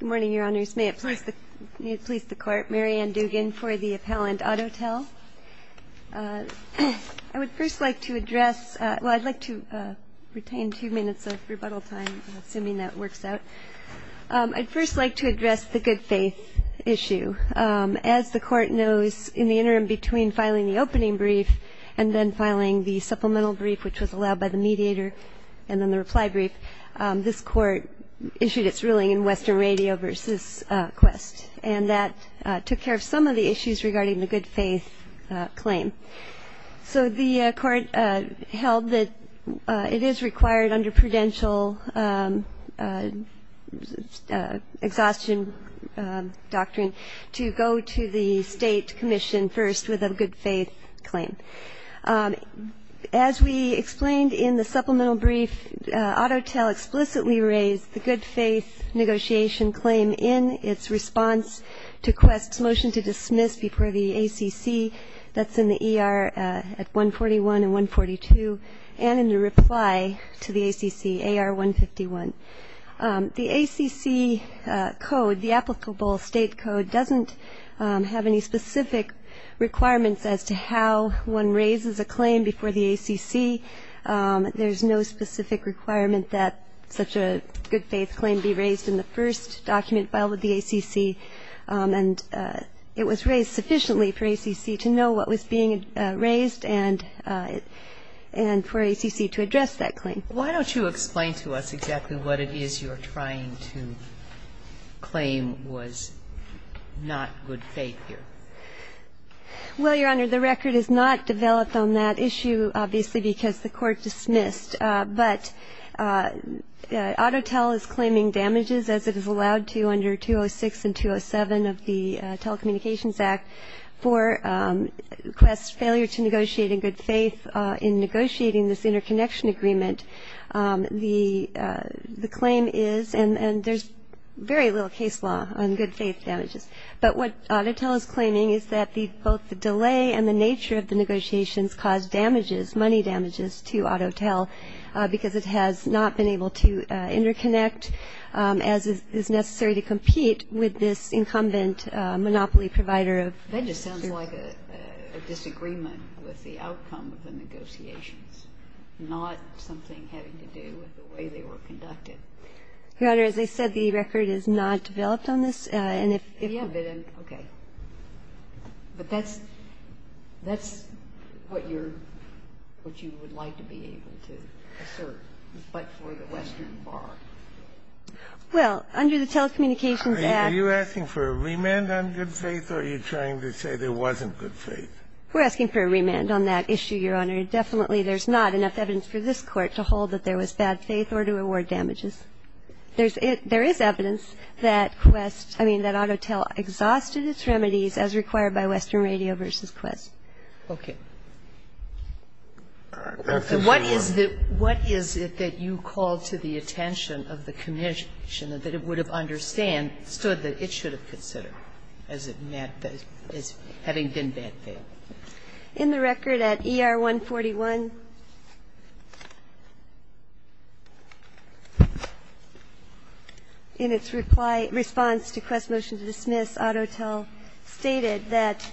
Good morning, Your Honors. May it please the Court, Mary Ann Dugan for the Appellant Autotel. I would first like to address, well, I'd like to retain two minutes of rebuttal time, assuming that works out. I'd first like to address the good faith issue. As the Court knows, in the interim between filing the opening brief and then filing the supplemental brief, which was allowed by the mediator, and then the reply brief, this Court issued its ruling in Western Radio v. Qwest. And that took care of some of the issues regarding the good faith claim. So the Court held that it is required under prudential exhaustion doctrine to go to the state commission first with a good faith claim. As we explained in the supplemental brief, Autotel explicitly raised the good faith negotiation claim in its response to Qwest's motion to dismiss before the ACC that's in the ER at 141 and 142 and in the reply to the ACC, AR 151. The ACC code, the applicable state code, doesn't have any specific requirements as to how one raises a claim before the ACC. There's no specific requirement that such a good faith claim be raised in the first document filed with the ACC. And it was raised sufficiently for ACC to know what was being raised and for ACC to address that claim. Why don't you explain to us exactly what it is you're trying to claim was not good faith here? Well, Your Honor, the record is not developed on that issue, obviously, because the Court dismissed. But Autotel is claiming damages, as it is allowed to under 206 and 207 of the Telecommunications Act, for Qwest's failure to negotiate in good faith in negotiating this interconnection agreement, the claim is, and there's very little case law on good faith damages. But what Autotel is claiming is that both the delay and the nature of the negotiations caused damages, money damages to Autotel because it has not been able to interconnect as is necessary to compete with this incumbent monopoly provider. That just sounds like a disagreement with the outcome of the negotiations, not something having to do with the way they were conducted. Your Honor, as I said, the record is not developed on this, and if you have it, okay. But that's what you're, what you would like to be able to assert, but for the Western Bar. Well, under the Telecommunications Act. Are you asking for a remand on good faith? Or are you trying to say there wasn't good faith? We're asking for a remand on that issue, Your Honor. Definitely there's not enough evidence for this Court to hold that there was bad faith or to award damages. There's, there is evidence that Qwest, I mean, that Autotel exhausted its remedies as required by Western Radio v. Qwest. Okay. What is the, what is it that you call to the attention of the commission that it would have understood that it should have considered as it met, as having been bad faith? In the record at ER-141, in its reply, response to Qwest's motion to dismiss, Autotel stated that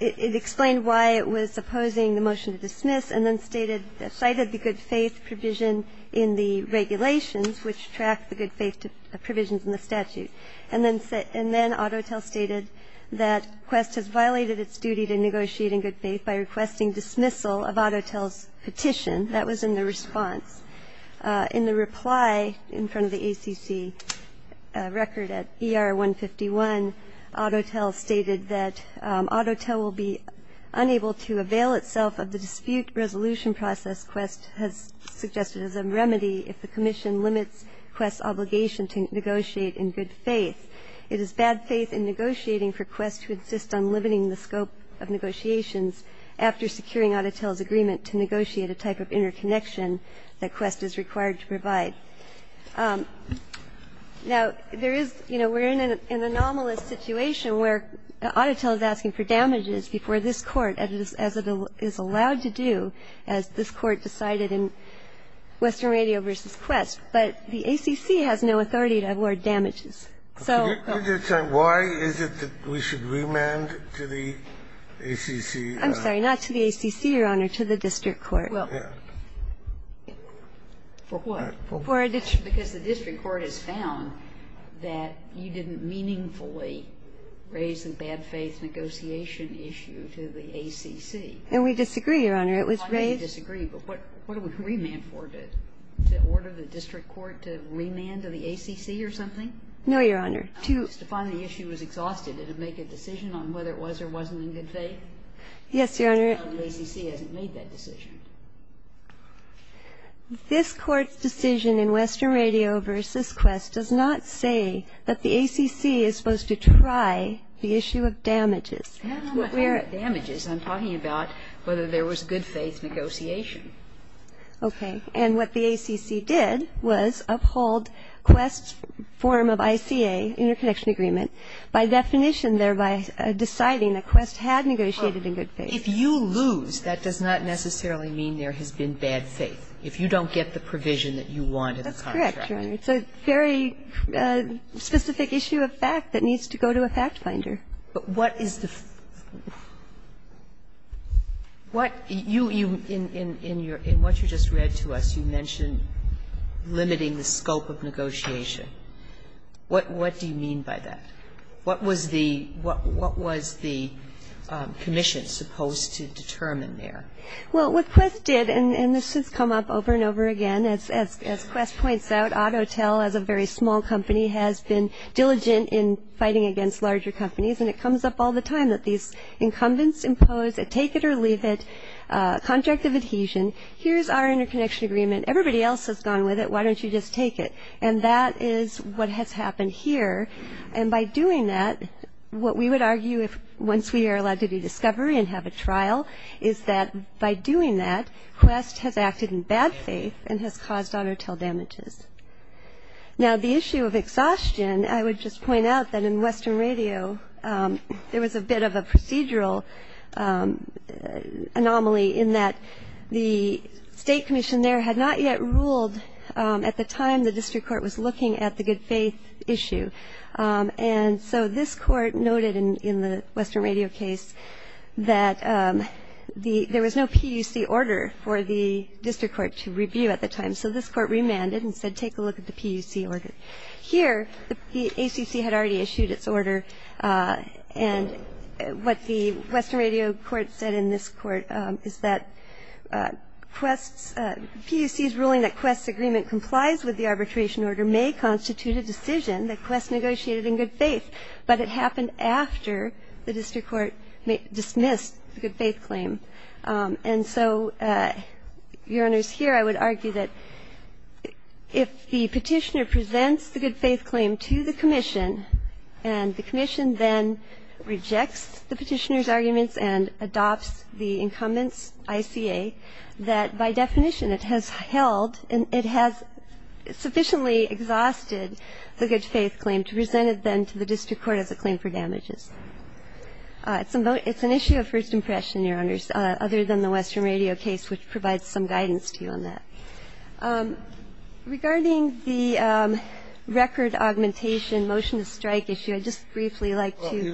it explained why it was opposing the motion to dismiss and then cited the good faith provision in the regulations which track the good faith provisions in the statute. And then Autotel stated that Qwest has violated its duty to negotiate in good faith by requesting dismissal of Autotel's petition. That was in the response. In the reply in front of the ACC record at ER-151, Autotel stated that Autotel will be in an anomalous situation where Autotel is asking for damages before this Court as it is allowed to do, as this Court decided in Western Radio v. Qwest. But the ACC has no authority to award damages. So the question is why is it that we should remand to the ACC? I'm sorry, not to the ACC, Your Honor, to the district court. Well, for what? Because the district court has found that you didn't meaningfully raise the bad faith negotiation issue to the ACC. And we disagree, Your Honor. It was raised. I know you disagree, but what do we remand for, to order the district court to remand to the ACC or something? No, Your Honor. Just to find the issue was exhausted and to make a decision on whether it was or wasn't in good faith? Yes, Your Honor. The ACC hasn't made that decision. This Court's decision in Western Radio v. Qwest does not say that the ACC is supposed to try the issue of damages. And I'm not talking about damages. I'm talking about whether there was good faith negotiation. Okay. And what the ACC did was uphold Qwest's form of ICA, interconnection agreement, by definition thereby deciding that Qwest had negotiated in good faith. If you lose, that does not necessarily mean there has been bad faith, if you don't get the provision that you want in the contract. That's correct, Your Honor. It's a very specific issue of fact that needs to go to a fact finder. But what is the ---- what you ---- in what you just read to us, you mentioned limiting the scope of negotiation. What do you mean by that? What was the commission supposed to determine there? Well, what Qwest did, and this has come up over and over again, as Qwest points out, Autotel as a very small company has been diligent in fighting against larger companies, and it comes up all the time that these incumbents impose a take it or leave it contract of adhesion. Here's our interconnection agreement. Everybody else has gone with it. Why don't you just take it? And that is what has happened here. And by doing that, what we would argue if once we are allowed to do discovery and have a trial is that by doing that, Qwest has acted in bad faith and has caused Autotel damages. Now, the issue of exhaustion, I would just point out that in Western Radio there was a bit of a procedural anomaly in that the state commission there had not yet ruled at the time the district court was looking at the good faith issue. And so this court noted in the Western Radio case that there was no PUC order for the district court to review at the time. And so this court remanded and said take a look at the PUC order. Here, the ACC had already issued its order, and what the Western Radio court said in this court is that PUC's ruling that Qwest's agreement complies with the arbitration order may constitute a decision that Qwest negotiated in good faith, but it happened after the district court dismissed the good faith claim. And so, Your Honors, here I would argue that if the Petitioner presents the good faith claim to the commission and the commission then rejects the Petitioner's arguments and adopts the incumbent's ICA, that by definition it has held and it has sufficiently exhausted the good faith claim to present it then to the district court as a claim for damages. It's an issue of first impression, Your Honors, other than the Western Radio case, which provides some guidance to you on that. Regarding the record augmentation, motion to strike issue, I'd just briefly like to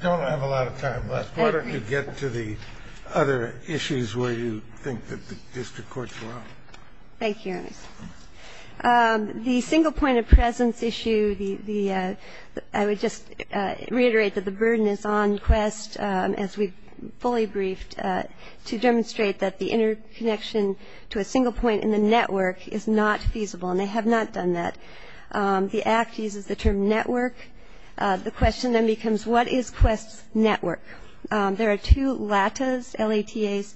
go to the other issues where you think that the district courts were wrong. Thank you, Your Honors. The single point of presence issue, the ‑‑ I would just reiterate that this is a case where the burden is on Qwest, as we fully briefed, to demonstrate that the interconnection to a single point in the network is not feasible, and they have not done that. The Act uses the term network. The question then becomes what is Qwest's network? There are two LATAs, L-A-T-A's,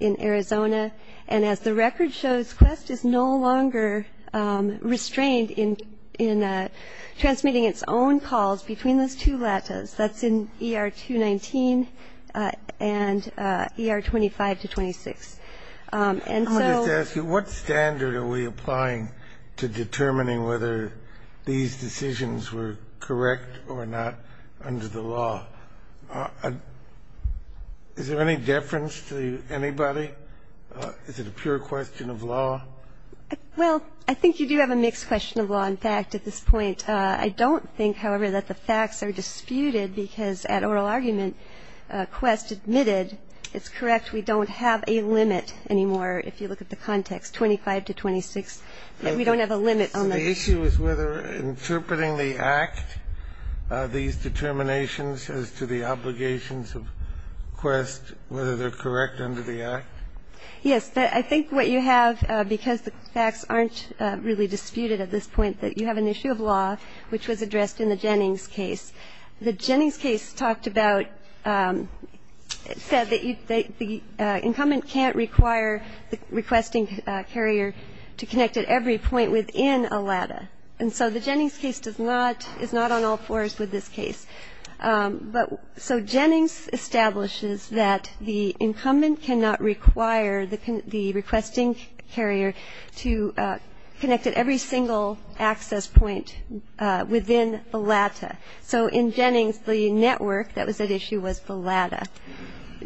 in Arizona. And as the record shows, Qwest is no longer restrained in transmitting its own calls between those two LATAs. That's in ER 219 and ER 25 to 26. And so ‑‑ I'll just ask you, what standard are we applying to determining whether these decisions were correct or not under the law? Is there any deference to anybody? Is it a pure question of law? Well, I think you do have a mixed question of law. In fact, at this point, I don't think, however, that the facts are disputed because at oral argument, Qwest admitted, it's correct, we don't have a limit anymore if you look at the context, 25 to 26. We don't have a limit on the ‑‑ So the issue is whether interpreting the Act, these determinations as to the obligations Yes. I think what you have, because the facts aren't really disputed at this point, that you have an issue of law which was addressed in the Jennings case. The Jennings case talked about, said that the incumbent can't require the requesting carrier to connect at every point within a LATA. And so the Jennings case does not, is not on all fours with this case. So Jennings establishes that the incumbent cannot require the requesting carrier to connect at every single access point within the LATA. So in Jennings, the network that was at issue was the LATA.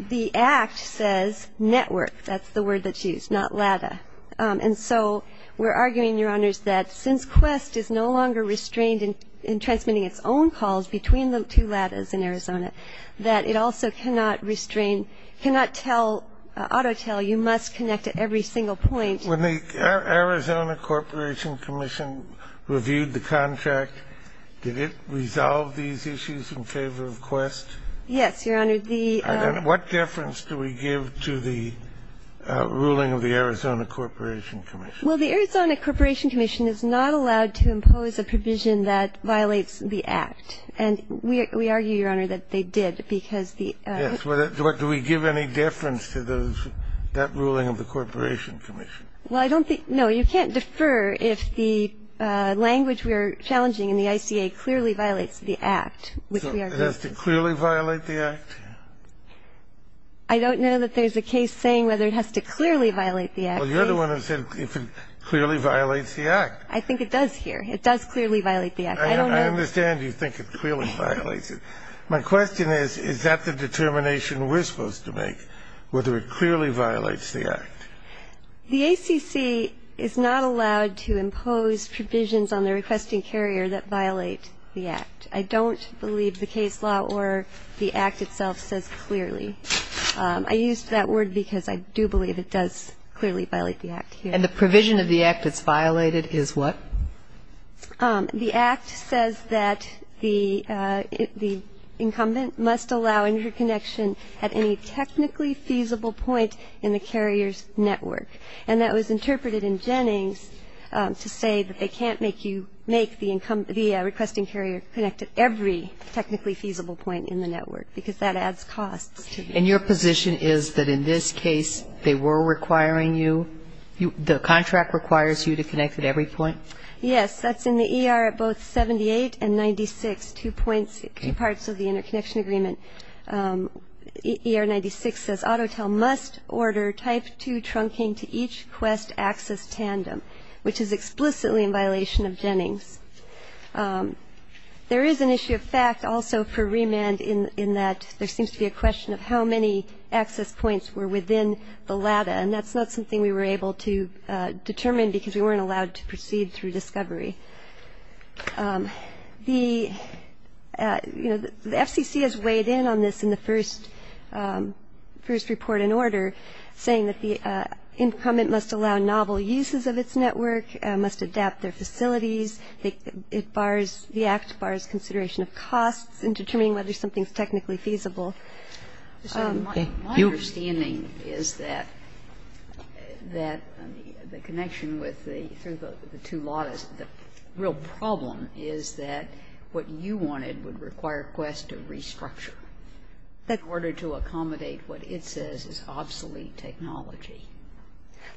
The Act says network. That's the word that's used, not LATA. And so we're arguing, Your Honors, that since Qwest is no longer restrained in transmitting its own calls between the two LATAs in Arizona, that it also cannot restrain, cannot tell, auto tell, you must connect at every single point. When the Arizona Corporation Commission reviewed the contract, did it resolve these issues in favor of Qwest? Yes, Your Honor. What difference do we give to the ruling of the Arizona Corporation Commission? Well, the Arizona Corporation Commission is not allowed to impose a provision that violates the Act. And we argue, Your Honor, that they did, because the act. Yes. Do we give any deference to those, that ruling of the Corporation Commission? Well, I don't think no. You can't defer if the language we are challenging in the ICA clearly violates the Act. So it has to clearly violate the Act? I don't know that there's a case saying whether it has to clearly violate the Act. Well, you're the one who said if it clearly violates the Act. I think it does here. It does clearly violate the Act. I don't know. I understand you think it clearly violates it. My question is, is that the determination we're supposed to make, whether it clearly violates the Act? The ACC is not allowed to impose provisions on the requesting carrier that violate the Act. I don't believe the case law or the Act itself says clearly. I used that word because I do believe it does clearly violate the Act here. And the provision of the Act that's violated is what? The Act says that the incumbent must allow interconnection at any technically feasible point in the carrier's network. And that was interpreted in Jennings to say that they can't make you make the requesting carrier connect at every technically feasible point in the network because that adds costs. And your position is that in this case they were requiring you, the contract requires you to connect at every point? Yes. That's in the ER at both 78 and 96, two parts of the interconnection agreement. ER 96 says Autotel must order Type 2 trunking to each Quest access tandem, which is explicitly in violation of Jennings. There is an issue of fact also for remand in that there seems to be a question of how many access points were within the LADA, and that's not something we were able to determine because we weren't allowed to proceed through discovery. The FCC has weighed in on this in the first report in order, saying that the incumbent must allow novel uses of its network, must adapt their facilities. It bars, the Act bars consideration of costs in determining whether something is technically feasible. My understanding is that the connection with the two LADAs, the real problem is that what you wanted would require Quest to restructure in order to accommodate what it says is obsolete technology.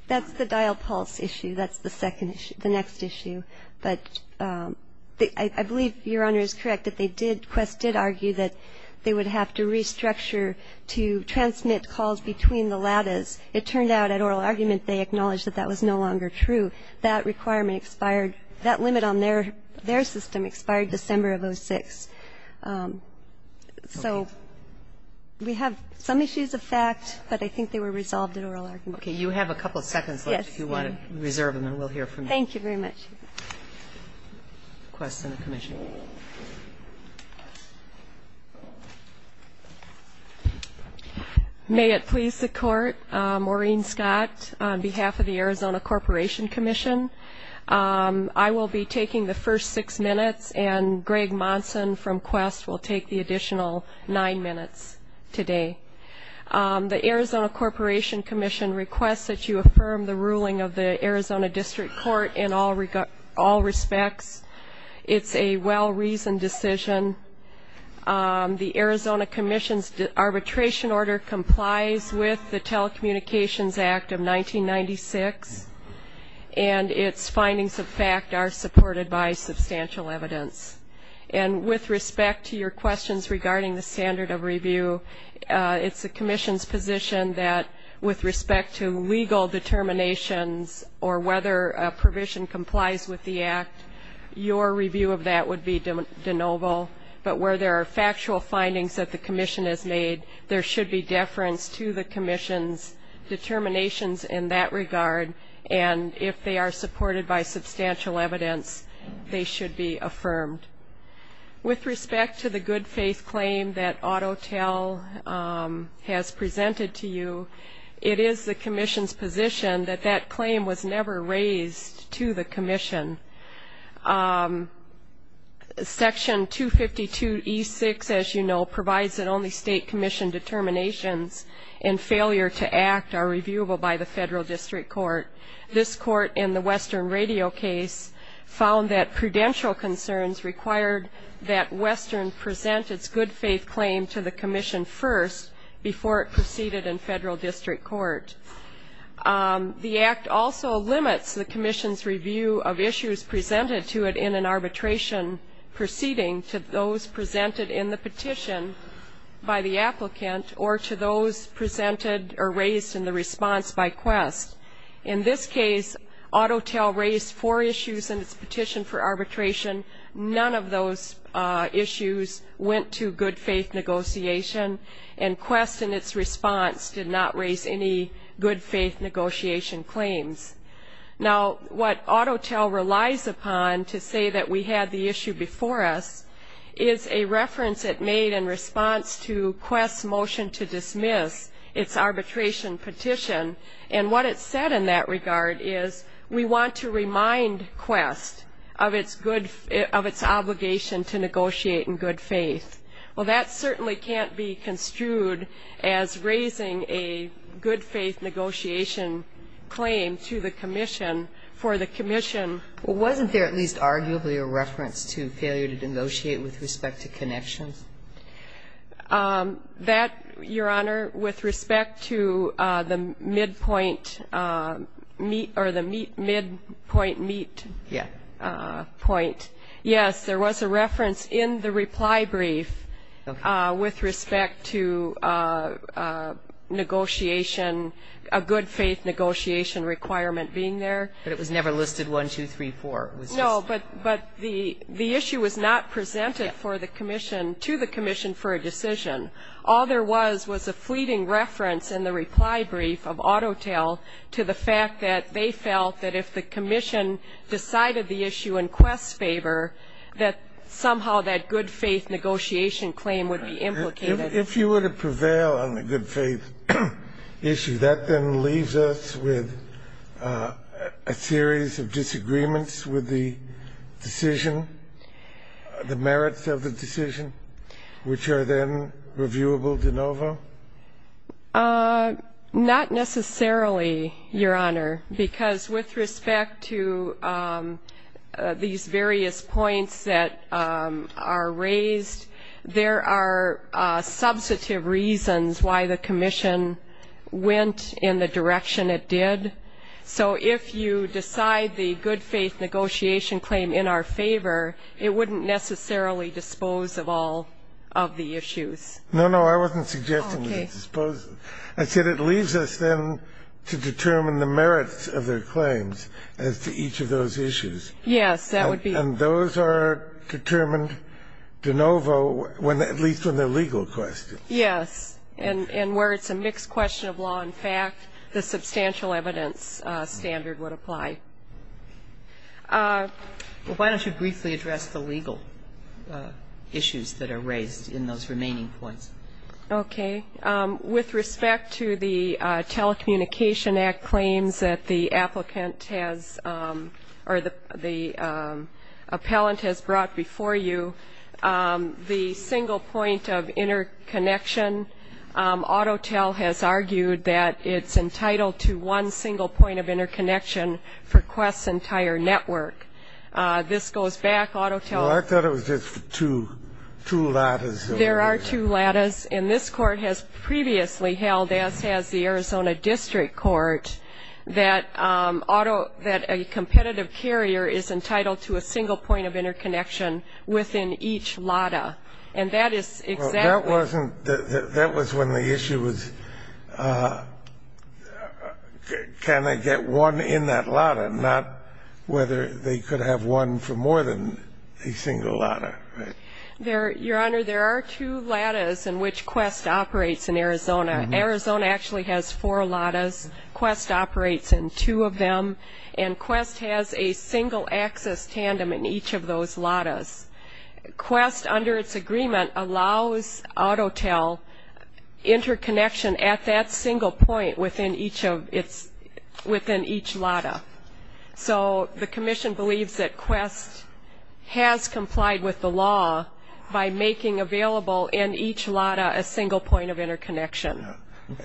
That's the dial pulse issue. That's the second issue, the next issue. But I believe Your Honor is correct that they did, Quest did argue that they would have to restructure to transmit calls between the LADAs. It turned out at oral argument they acknowledged that that was no longer true. That requirement expired. That limit on their system expired December of 06. So we have some issues of fact, but I think they were resolved at oral argument. Okay. You have a couple of seconds left if you want to reserve them, and we'll hear from you. Thank you very much. Quest, Senate Commission. May it please the Court, Maureen Scott, on behalf of the Arizona Corporation Commission. I will be taking the first six minutes, and Greg Monson from Quest will take the additional nine minutes today. The Arizona Corporation Commission requests that you affirm the ruling of the Court in all respects. It's a well-reasoned decision. The Arizona Commission's arbitration order complies with the Telecommunications Act of 1996, and its findings of fact are supported by substantial evidence. And with respect to your questions regarding the standard of review, it's the Commission's position that with respect to legal determinations or whether a provision complies with the Act, your review of that would be de novo. But where there are factual findings that the Commission has made, there should be deference to the Commission's determinations in that regard, and if they are supported by substantial evidence, they should be affirmed. With respect to the good faith claim that Autotel has presented to you, it is the Commission's position that that claim was never raised to the Commission. Section 252E6, as you know, provides that only State Commission determinations and failure to act are reviewable by the Federal District Court. This court in the Western Radio case found that prudential concerns required that Western present its good faith claim to the Commission first before it proceeded in Federal District Court. The Act also limits the Commission's review of issues presented to it in an arbitration proceeding to those presented in the petition by the applicant or to those presented or raised in the response by Quest. In this case, Autotel raised four issues in its petition for arbitration. None of those issues went to good faith negotiation, and Quest in its response did not raise any good faith negotiation claims. Now, what Autotel relies upon to say that we had the issue before us is a reference it made in response to Quest's motion to dismiss its arbitration petition, and what it said in that regard is we want to remind Quest of its obligation to negotiate in good faith. Well, that certainly can't be construed as raising a good faith negotiation claim to the Commission for the Commission. Well, wasn't there at least arguably a reference to failure to negotiate with respect to connections? That, Your Honor, with respect to the midpoint meet or the midpoint meet point, yes, there was a reference in the reply brief with respect to negotiation, a good faith negotiation requirement being there. But it was never listed 1, 2, 3, 4. No, but the issue was not presented to the Commission for a decision. All there was was a fleeting reference in the reply brief of Autotel to the fact that they felt that if the Commission decided the issue in Quest's favor, that somehow that good faith negotiation claim would be implicated. If you were to prevail on the good faith issue, that then leaves us with a series of disagreements with the decision, the merits of the decision, which are then reviewable de novo? Not necessarily, Your Honor, because with respect to these various points that are raised, there are substantive reasons why the Commission went in the direction it did. So if you decide the good faith negotiation claim in our favor, it wouldn't necessarily dispose of all of the issues. No, no, I wasn't suggesting that it disposes. I said it leaves us then to determine the merits of their claims as to each of those issues. Yes, that would be. And those are determined de novo, at least when they're legal questions. Yes, and where it's a mixed question of law and fact, the substantial evidence standard would apply. Why don't you briefly address the legal issues that are raised in those remaining points? Okay. With respect to the Telecommunication Act claims that the applicant has or the appellant has brought before you, the single point of interconnection, Autotel has argued that it's entitled to one single point of interconnection for Quest's entire network. This goes back, Autotel. I thought it was just two lattice. There are two lattice. And this Court has previously held, as has the Arizona District Court, that a competitive carrier is entitled to a single point of interconnection within each lattice. And that is exactly the case. That was when the issue was can I get one in that lattice, not whether they could have one for more than a single lattice. Your Honor, there are two lattice in which Quest operates in Arizona. Arizona actually has four lattice. Quest operates in two of them. And Quest has a single access tandem in each of those lattice. Quest, under its agreement, allows Autotel interconnection at that single point within each lattice. So the commission believes that Quest has complied with the law by making available in each lattice a single point of interconnection.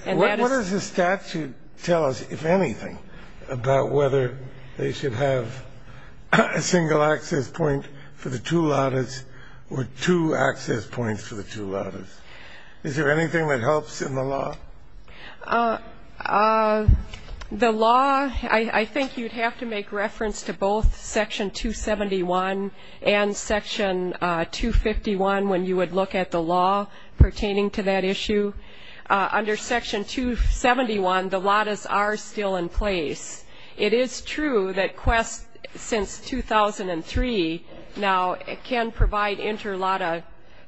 What does the statute tell us, if anything, about whether they should have a single access point for the two lattice or two access points for the two lattice? Is there anything that helps in the law? The law, I think you'd have to make reference to both Section 271 and Section 251 when you would look at the law pertaining to that issue. Under Section 271, the lattices are still in place. It is true that Quest, since 2003 now, can provide interlattice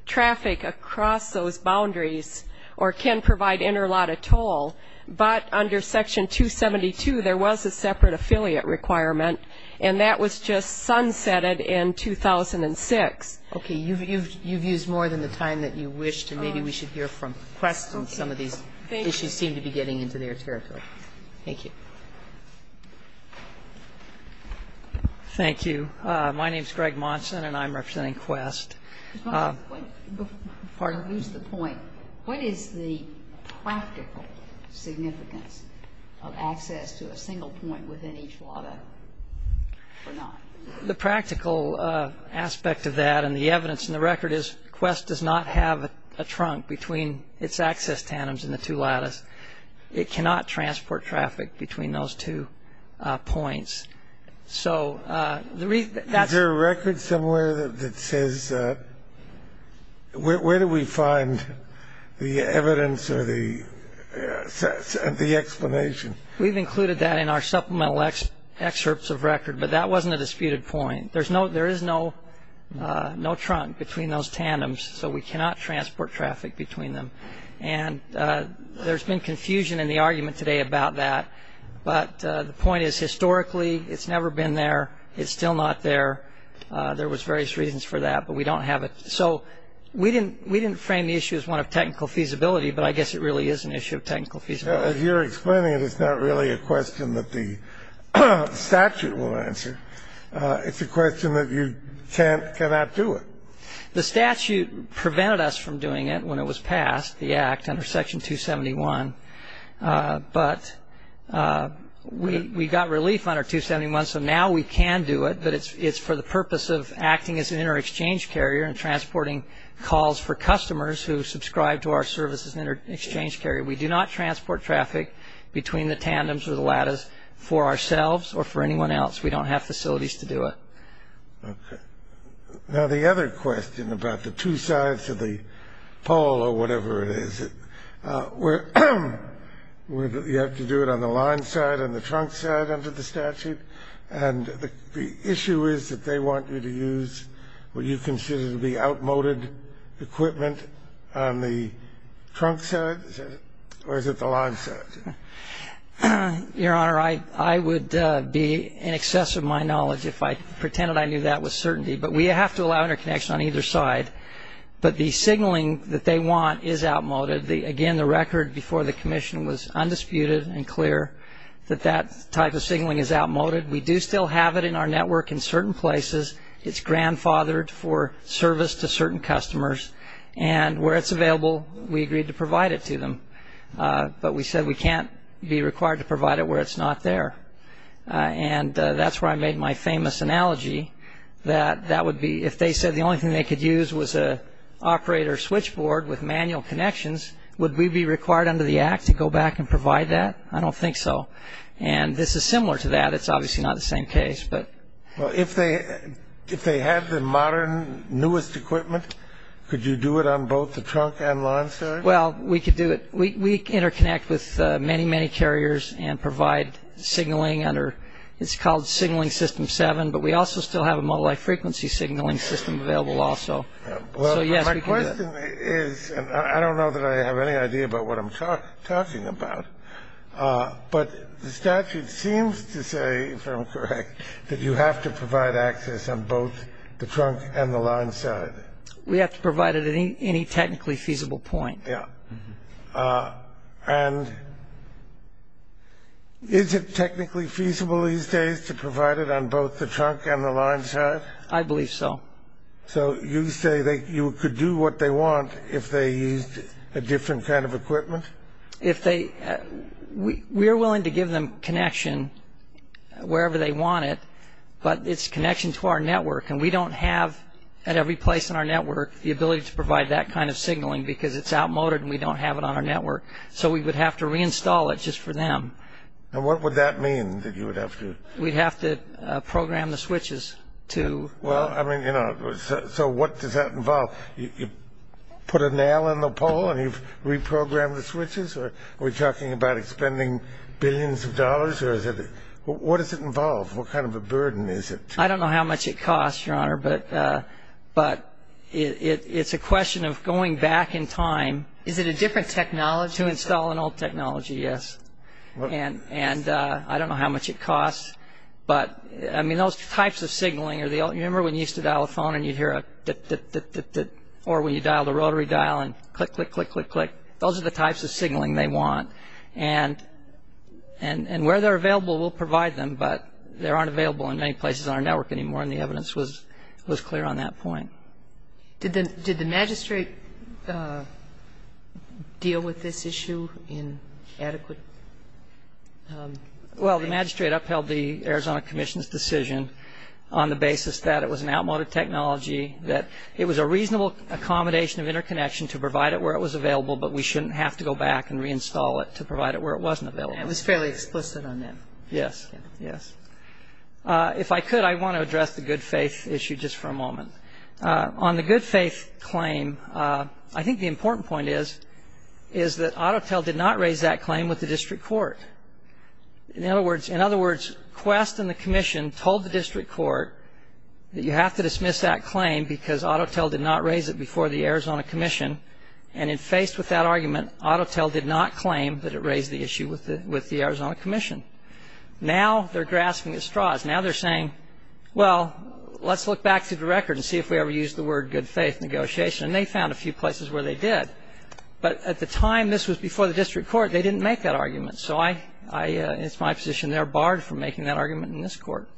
traffic across those boundaries or can provide interlattice toll. But under Section 272, there was a separate affiliate requirement, and that was just sunsetted in 2006. Okay. You've used more than the time that you wished, and maybe we should hear from Quest on some of these issues seem to be getting into their territory. Thank you. Thank you. My name is Greg Monson, and I'm representing Quest. Mr. Monson, before I lose the point, what is the practical significance of access to a single point within each lattice or not? The practical aspect of that and the evidence in the record is Quest does not have a trunk between its access tanyms in the two lattice. It cannot transport traffic between those two points. Is there a record somewhere that says where do we find the evidence or the explanation? We've included that in our supplemental excerpts of record, but that wasn't a disputed point. There is no trunk between those tanyms, so we cannot transport traffic between them. And there's been confusion in the argument today about that, but the point is historically it's never been there. It's still not there. There was various reasons for that, but we don't have it. So we didn't frame the issue as one of technical feasibility, but I guess it really is an issue of technical feasibility. As you're explaining it, it's not really a question that the statute will answer. It's a question that you cannot do it. The statute prevented us from doing it when it was passed, the Act, under Section 271, but we got relief under 271, so now we can do it, but it's for the purpose of acting as an inter-exchange carrier and transporting calls for customers who subscribe to our service as an inter-exchange carrier. We do not transport traffic between the tanyms or the lattice for ourselves or for anyone else. We don't have facilities to do it. Okay. Now, the other question about the two sides of the pole or whatever it is, where you have to do it on the line side, on the trunk side under the statute, and the issue is that they want you to use what you consider to be outmoded equipment on the trunk side, or is it the line side? Your Honor, I would be in excess of my knowledge if I pretended I knew that with certainty, but we have to allow interconnection on either side, but the signaling that they want is outmoded. Again, the record before the commission was undisputed and clear that that type of signaling is outmoded. We do still have it in our network in certain places. It's grandfathered for service to certain customers, and where it's available, we agreed to provide it to them, but we said we can't be required to provide it where it's not there, and that's where I made my famous analogy that that would be, if they said the only thing they could use was an operator switchboard with manual connections, would we be required under the Act to go back and provide that? I don't think so, and this is similar to that. It's obviously not the same case, but. Well, if they had the modern, newest equipment, could you do it on both the trunk and line side? Well, we could do it. We interconnect with many, many carriers and provide signaling under, it's called signaling system seven, but we also still have a multi-frequency signaling system available also. My question is, and I don't know that I have any idea about what I'm talking about, but the statute seems to say, if I'm correct, that you have to provide access on both the trunk and the line side. We have to provide it at any technically feasible point. Yeah. And is it technically feasible these days to provide it on both the trunk and the line side? I believe so. So you say you could do what they want if they used a different kind of equipment? If they, we are willing to give them connection wherever they want it, but it's connection to our network, and we don't have, at every place in our network, the ability to provide that kind of signaling because it's outmoded and we don't have it on our network. So we would have to reinstall it just for them. And what would that mean, that you would have to? We'd have to program the switches to. Well, I mean, you know, so what does that involve? You put a nail in the pole and you reprogram the switches? Are we talking about expending billions of dollars? What does it involve? What kind of a burden is it? I don't know how much it costs, Your Honor, but it's a question of going back in time. Is it a different technology? To install an old technology, yes. And I don't know how much it costs, but, I mean, those types of signaling are the old, you remember when you used to dial a phone and you'd hear a dip, dip, dip, dip, dip, or when you dialed a rotary dial and click, click, click, click, click. Those are the types of signaling they want. And where they're available, we'll provide them, but they aren't available in many places on our network anymore, and the evidence was clear on that point. Did the magistrate deal with this issue in adequate way? Well, the magistrate upheld the Arizona Commission's decision on the basis that it was an outmoded technology, that it was a reasonable accommodation of interconnection to provide it where it was available, but we shouldn't have to go back and reinstall it to provide it where it wasn't available. And it was fairly explicit on that. Yes, yes. If I could, I want to address the good faith issue just for a moment. On the good faith claim, I think the important point is, is that Autotel did not raise that claim with the district court. In other words, in other words, Quest and the Commission told the district court that you have to dismiss that claim because Autotel did not raise it before the Arizona Commission, and in faced with that argument, Autotel did not claim that it raised the issue with the Arizona Commission. Now they're grasping at straws. Now they're saying, well, let's look back through the record and see if we ever used the word good faith negotiation, and they found a few places where they did. But at the time this was before the district court, they didn't make that argument, so it's my position they're barred from making that argument in this court.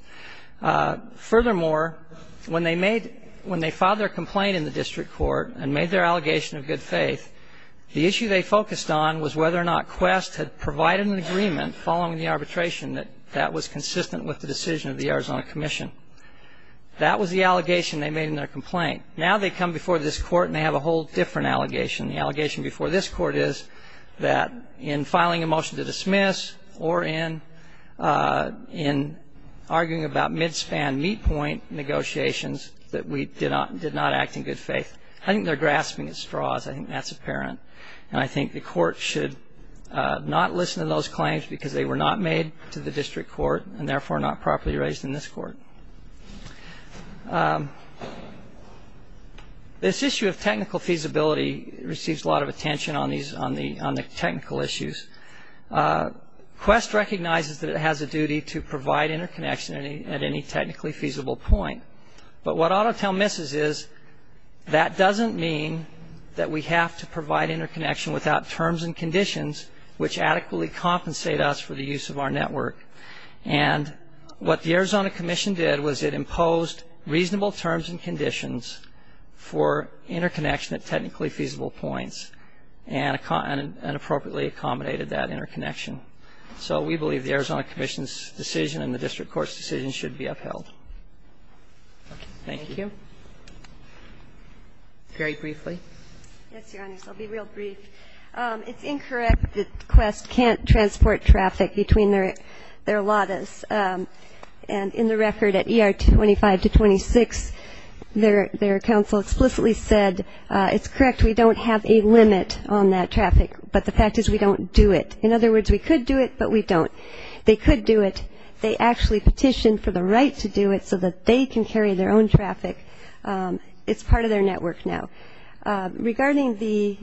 Furthermore, when they filed their complaint in the district court and made their allegation of good faith, the issue they focused on was whether or not Quest had provided an agreement following the arbitration that that was consistent with the decision of the Arizona Commission. That was the allegation they made in their complaint. Now they come before this court and they have a whole different allegation. The allegation before this court is that in filing a motion to dismiss or in arguing about mid-span meet point negotiations that we did not act in good faith. I think they're grasping at straws. I think that's apparent. And I think the court should not listen to those claims because they were not made to the district court and therefore not properly raised in this court. This issue of technical feasibility receives a lot of attention on the technical issues. Quest recognizes that it has a duty to provide interconnection at any technically feasible point. But what AutoTel misses is that doesn't mean that we have to provide interconnection without terms and conditions which adequately compensate us for the use of our network. And what the Arizona Commission did was it imposed reasonable terms and conditions for interconnection at technically feasible points and appropriately accommodated that interconnection. So we believe the Arizona Commission's decision and the district court's decision should be upheld. Thank you. Very briefly. Yes, Your Honors. I'll be real brief. It's incorrect that Quest can't transport traffic between their Ladas. And in the record at ER 25 to 26, their counsel explicitly said, it's correct we don't have a limit on that traffic, but the fact is we don't do it. In other words, we could do it, but we don't. They could do it. They actually petitioned for the right to do it so that they can carry their own traffic. It's part of their network now. Regarding the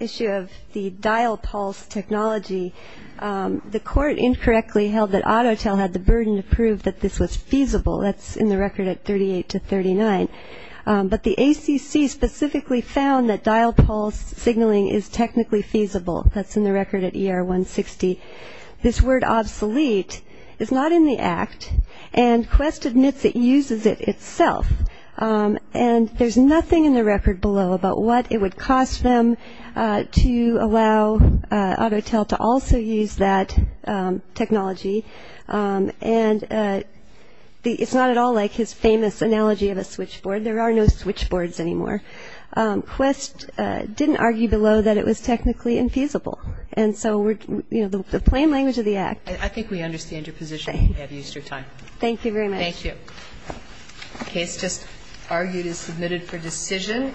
issue of the dial pulse technology, the court incorrectly held that Autotel had the burden to prove that this was feasible. That's in the record at 38 to 39. But the ACC specifically found that dial pulse signaling is technically feasible. That's in the record at ER 160. This word obsolete is not in the act, and Quest admits it uses it itself. And there's nothing in the record below about what it would cost them to allow Autotel to also use that technology. And it's not at all like his famous analogy of a switchboard. There are no switchboards anymore. Quest didn't argue below that it was technically infeasible. And so we're, you know, the plain language of the act. I think we understand your position and have used your time. Thank you very much. Thank you. The case just argued is submitted for decision.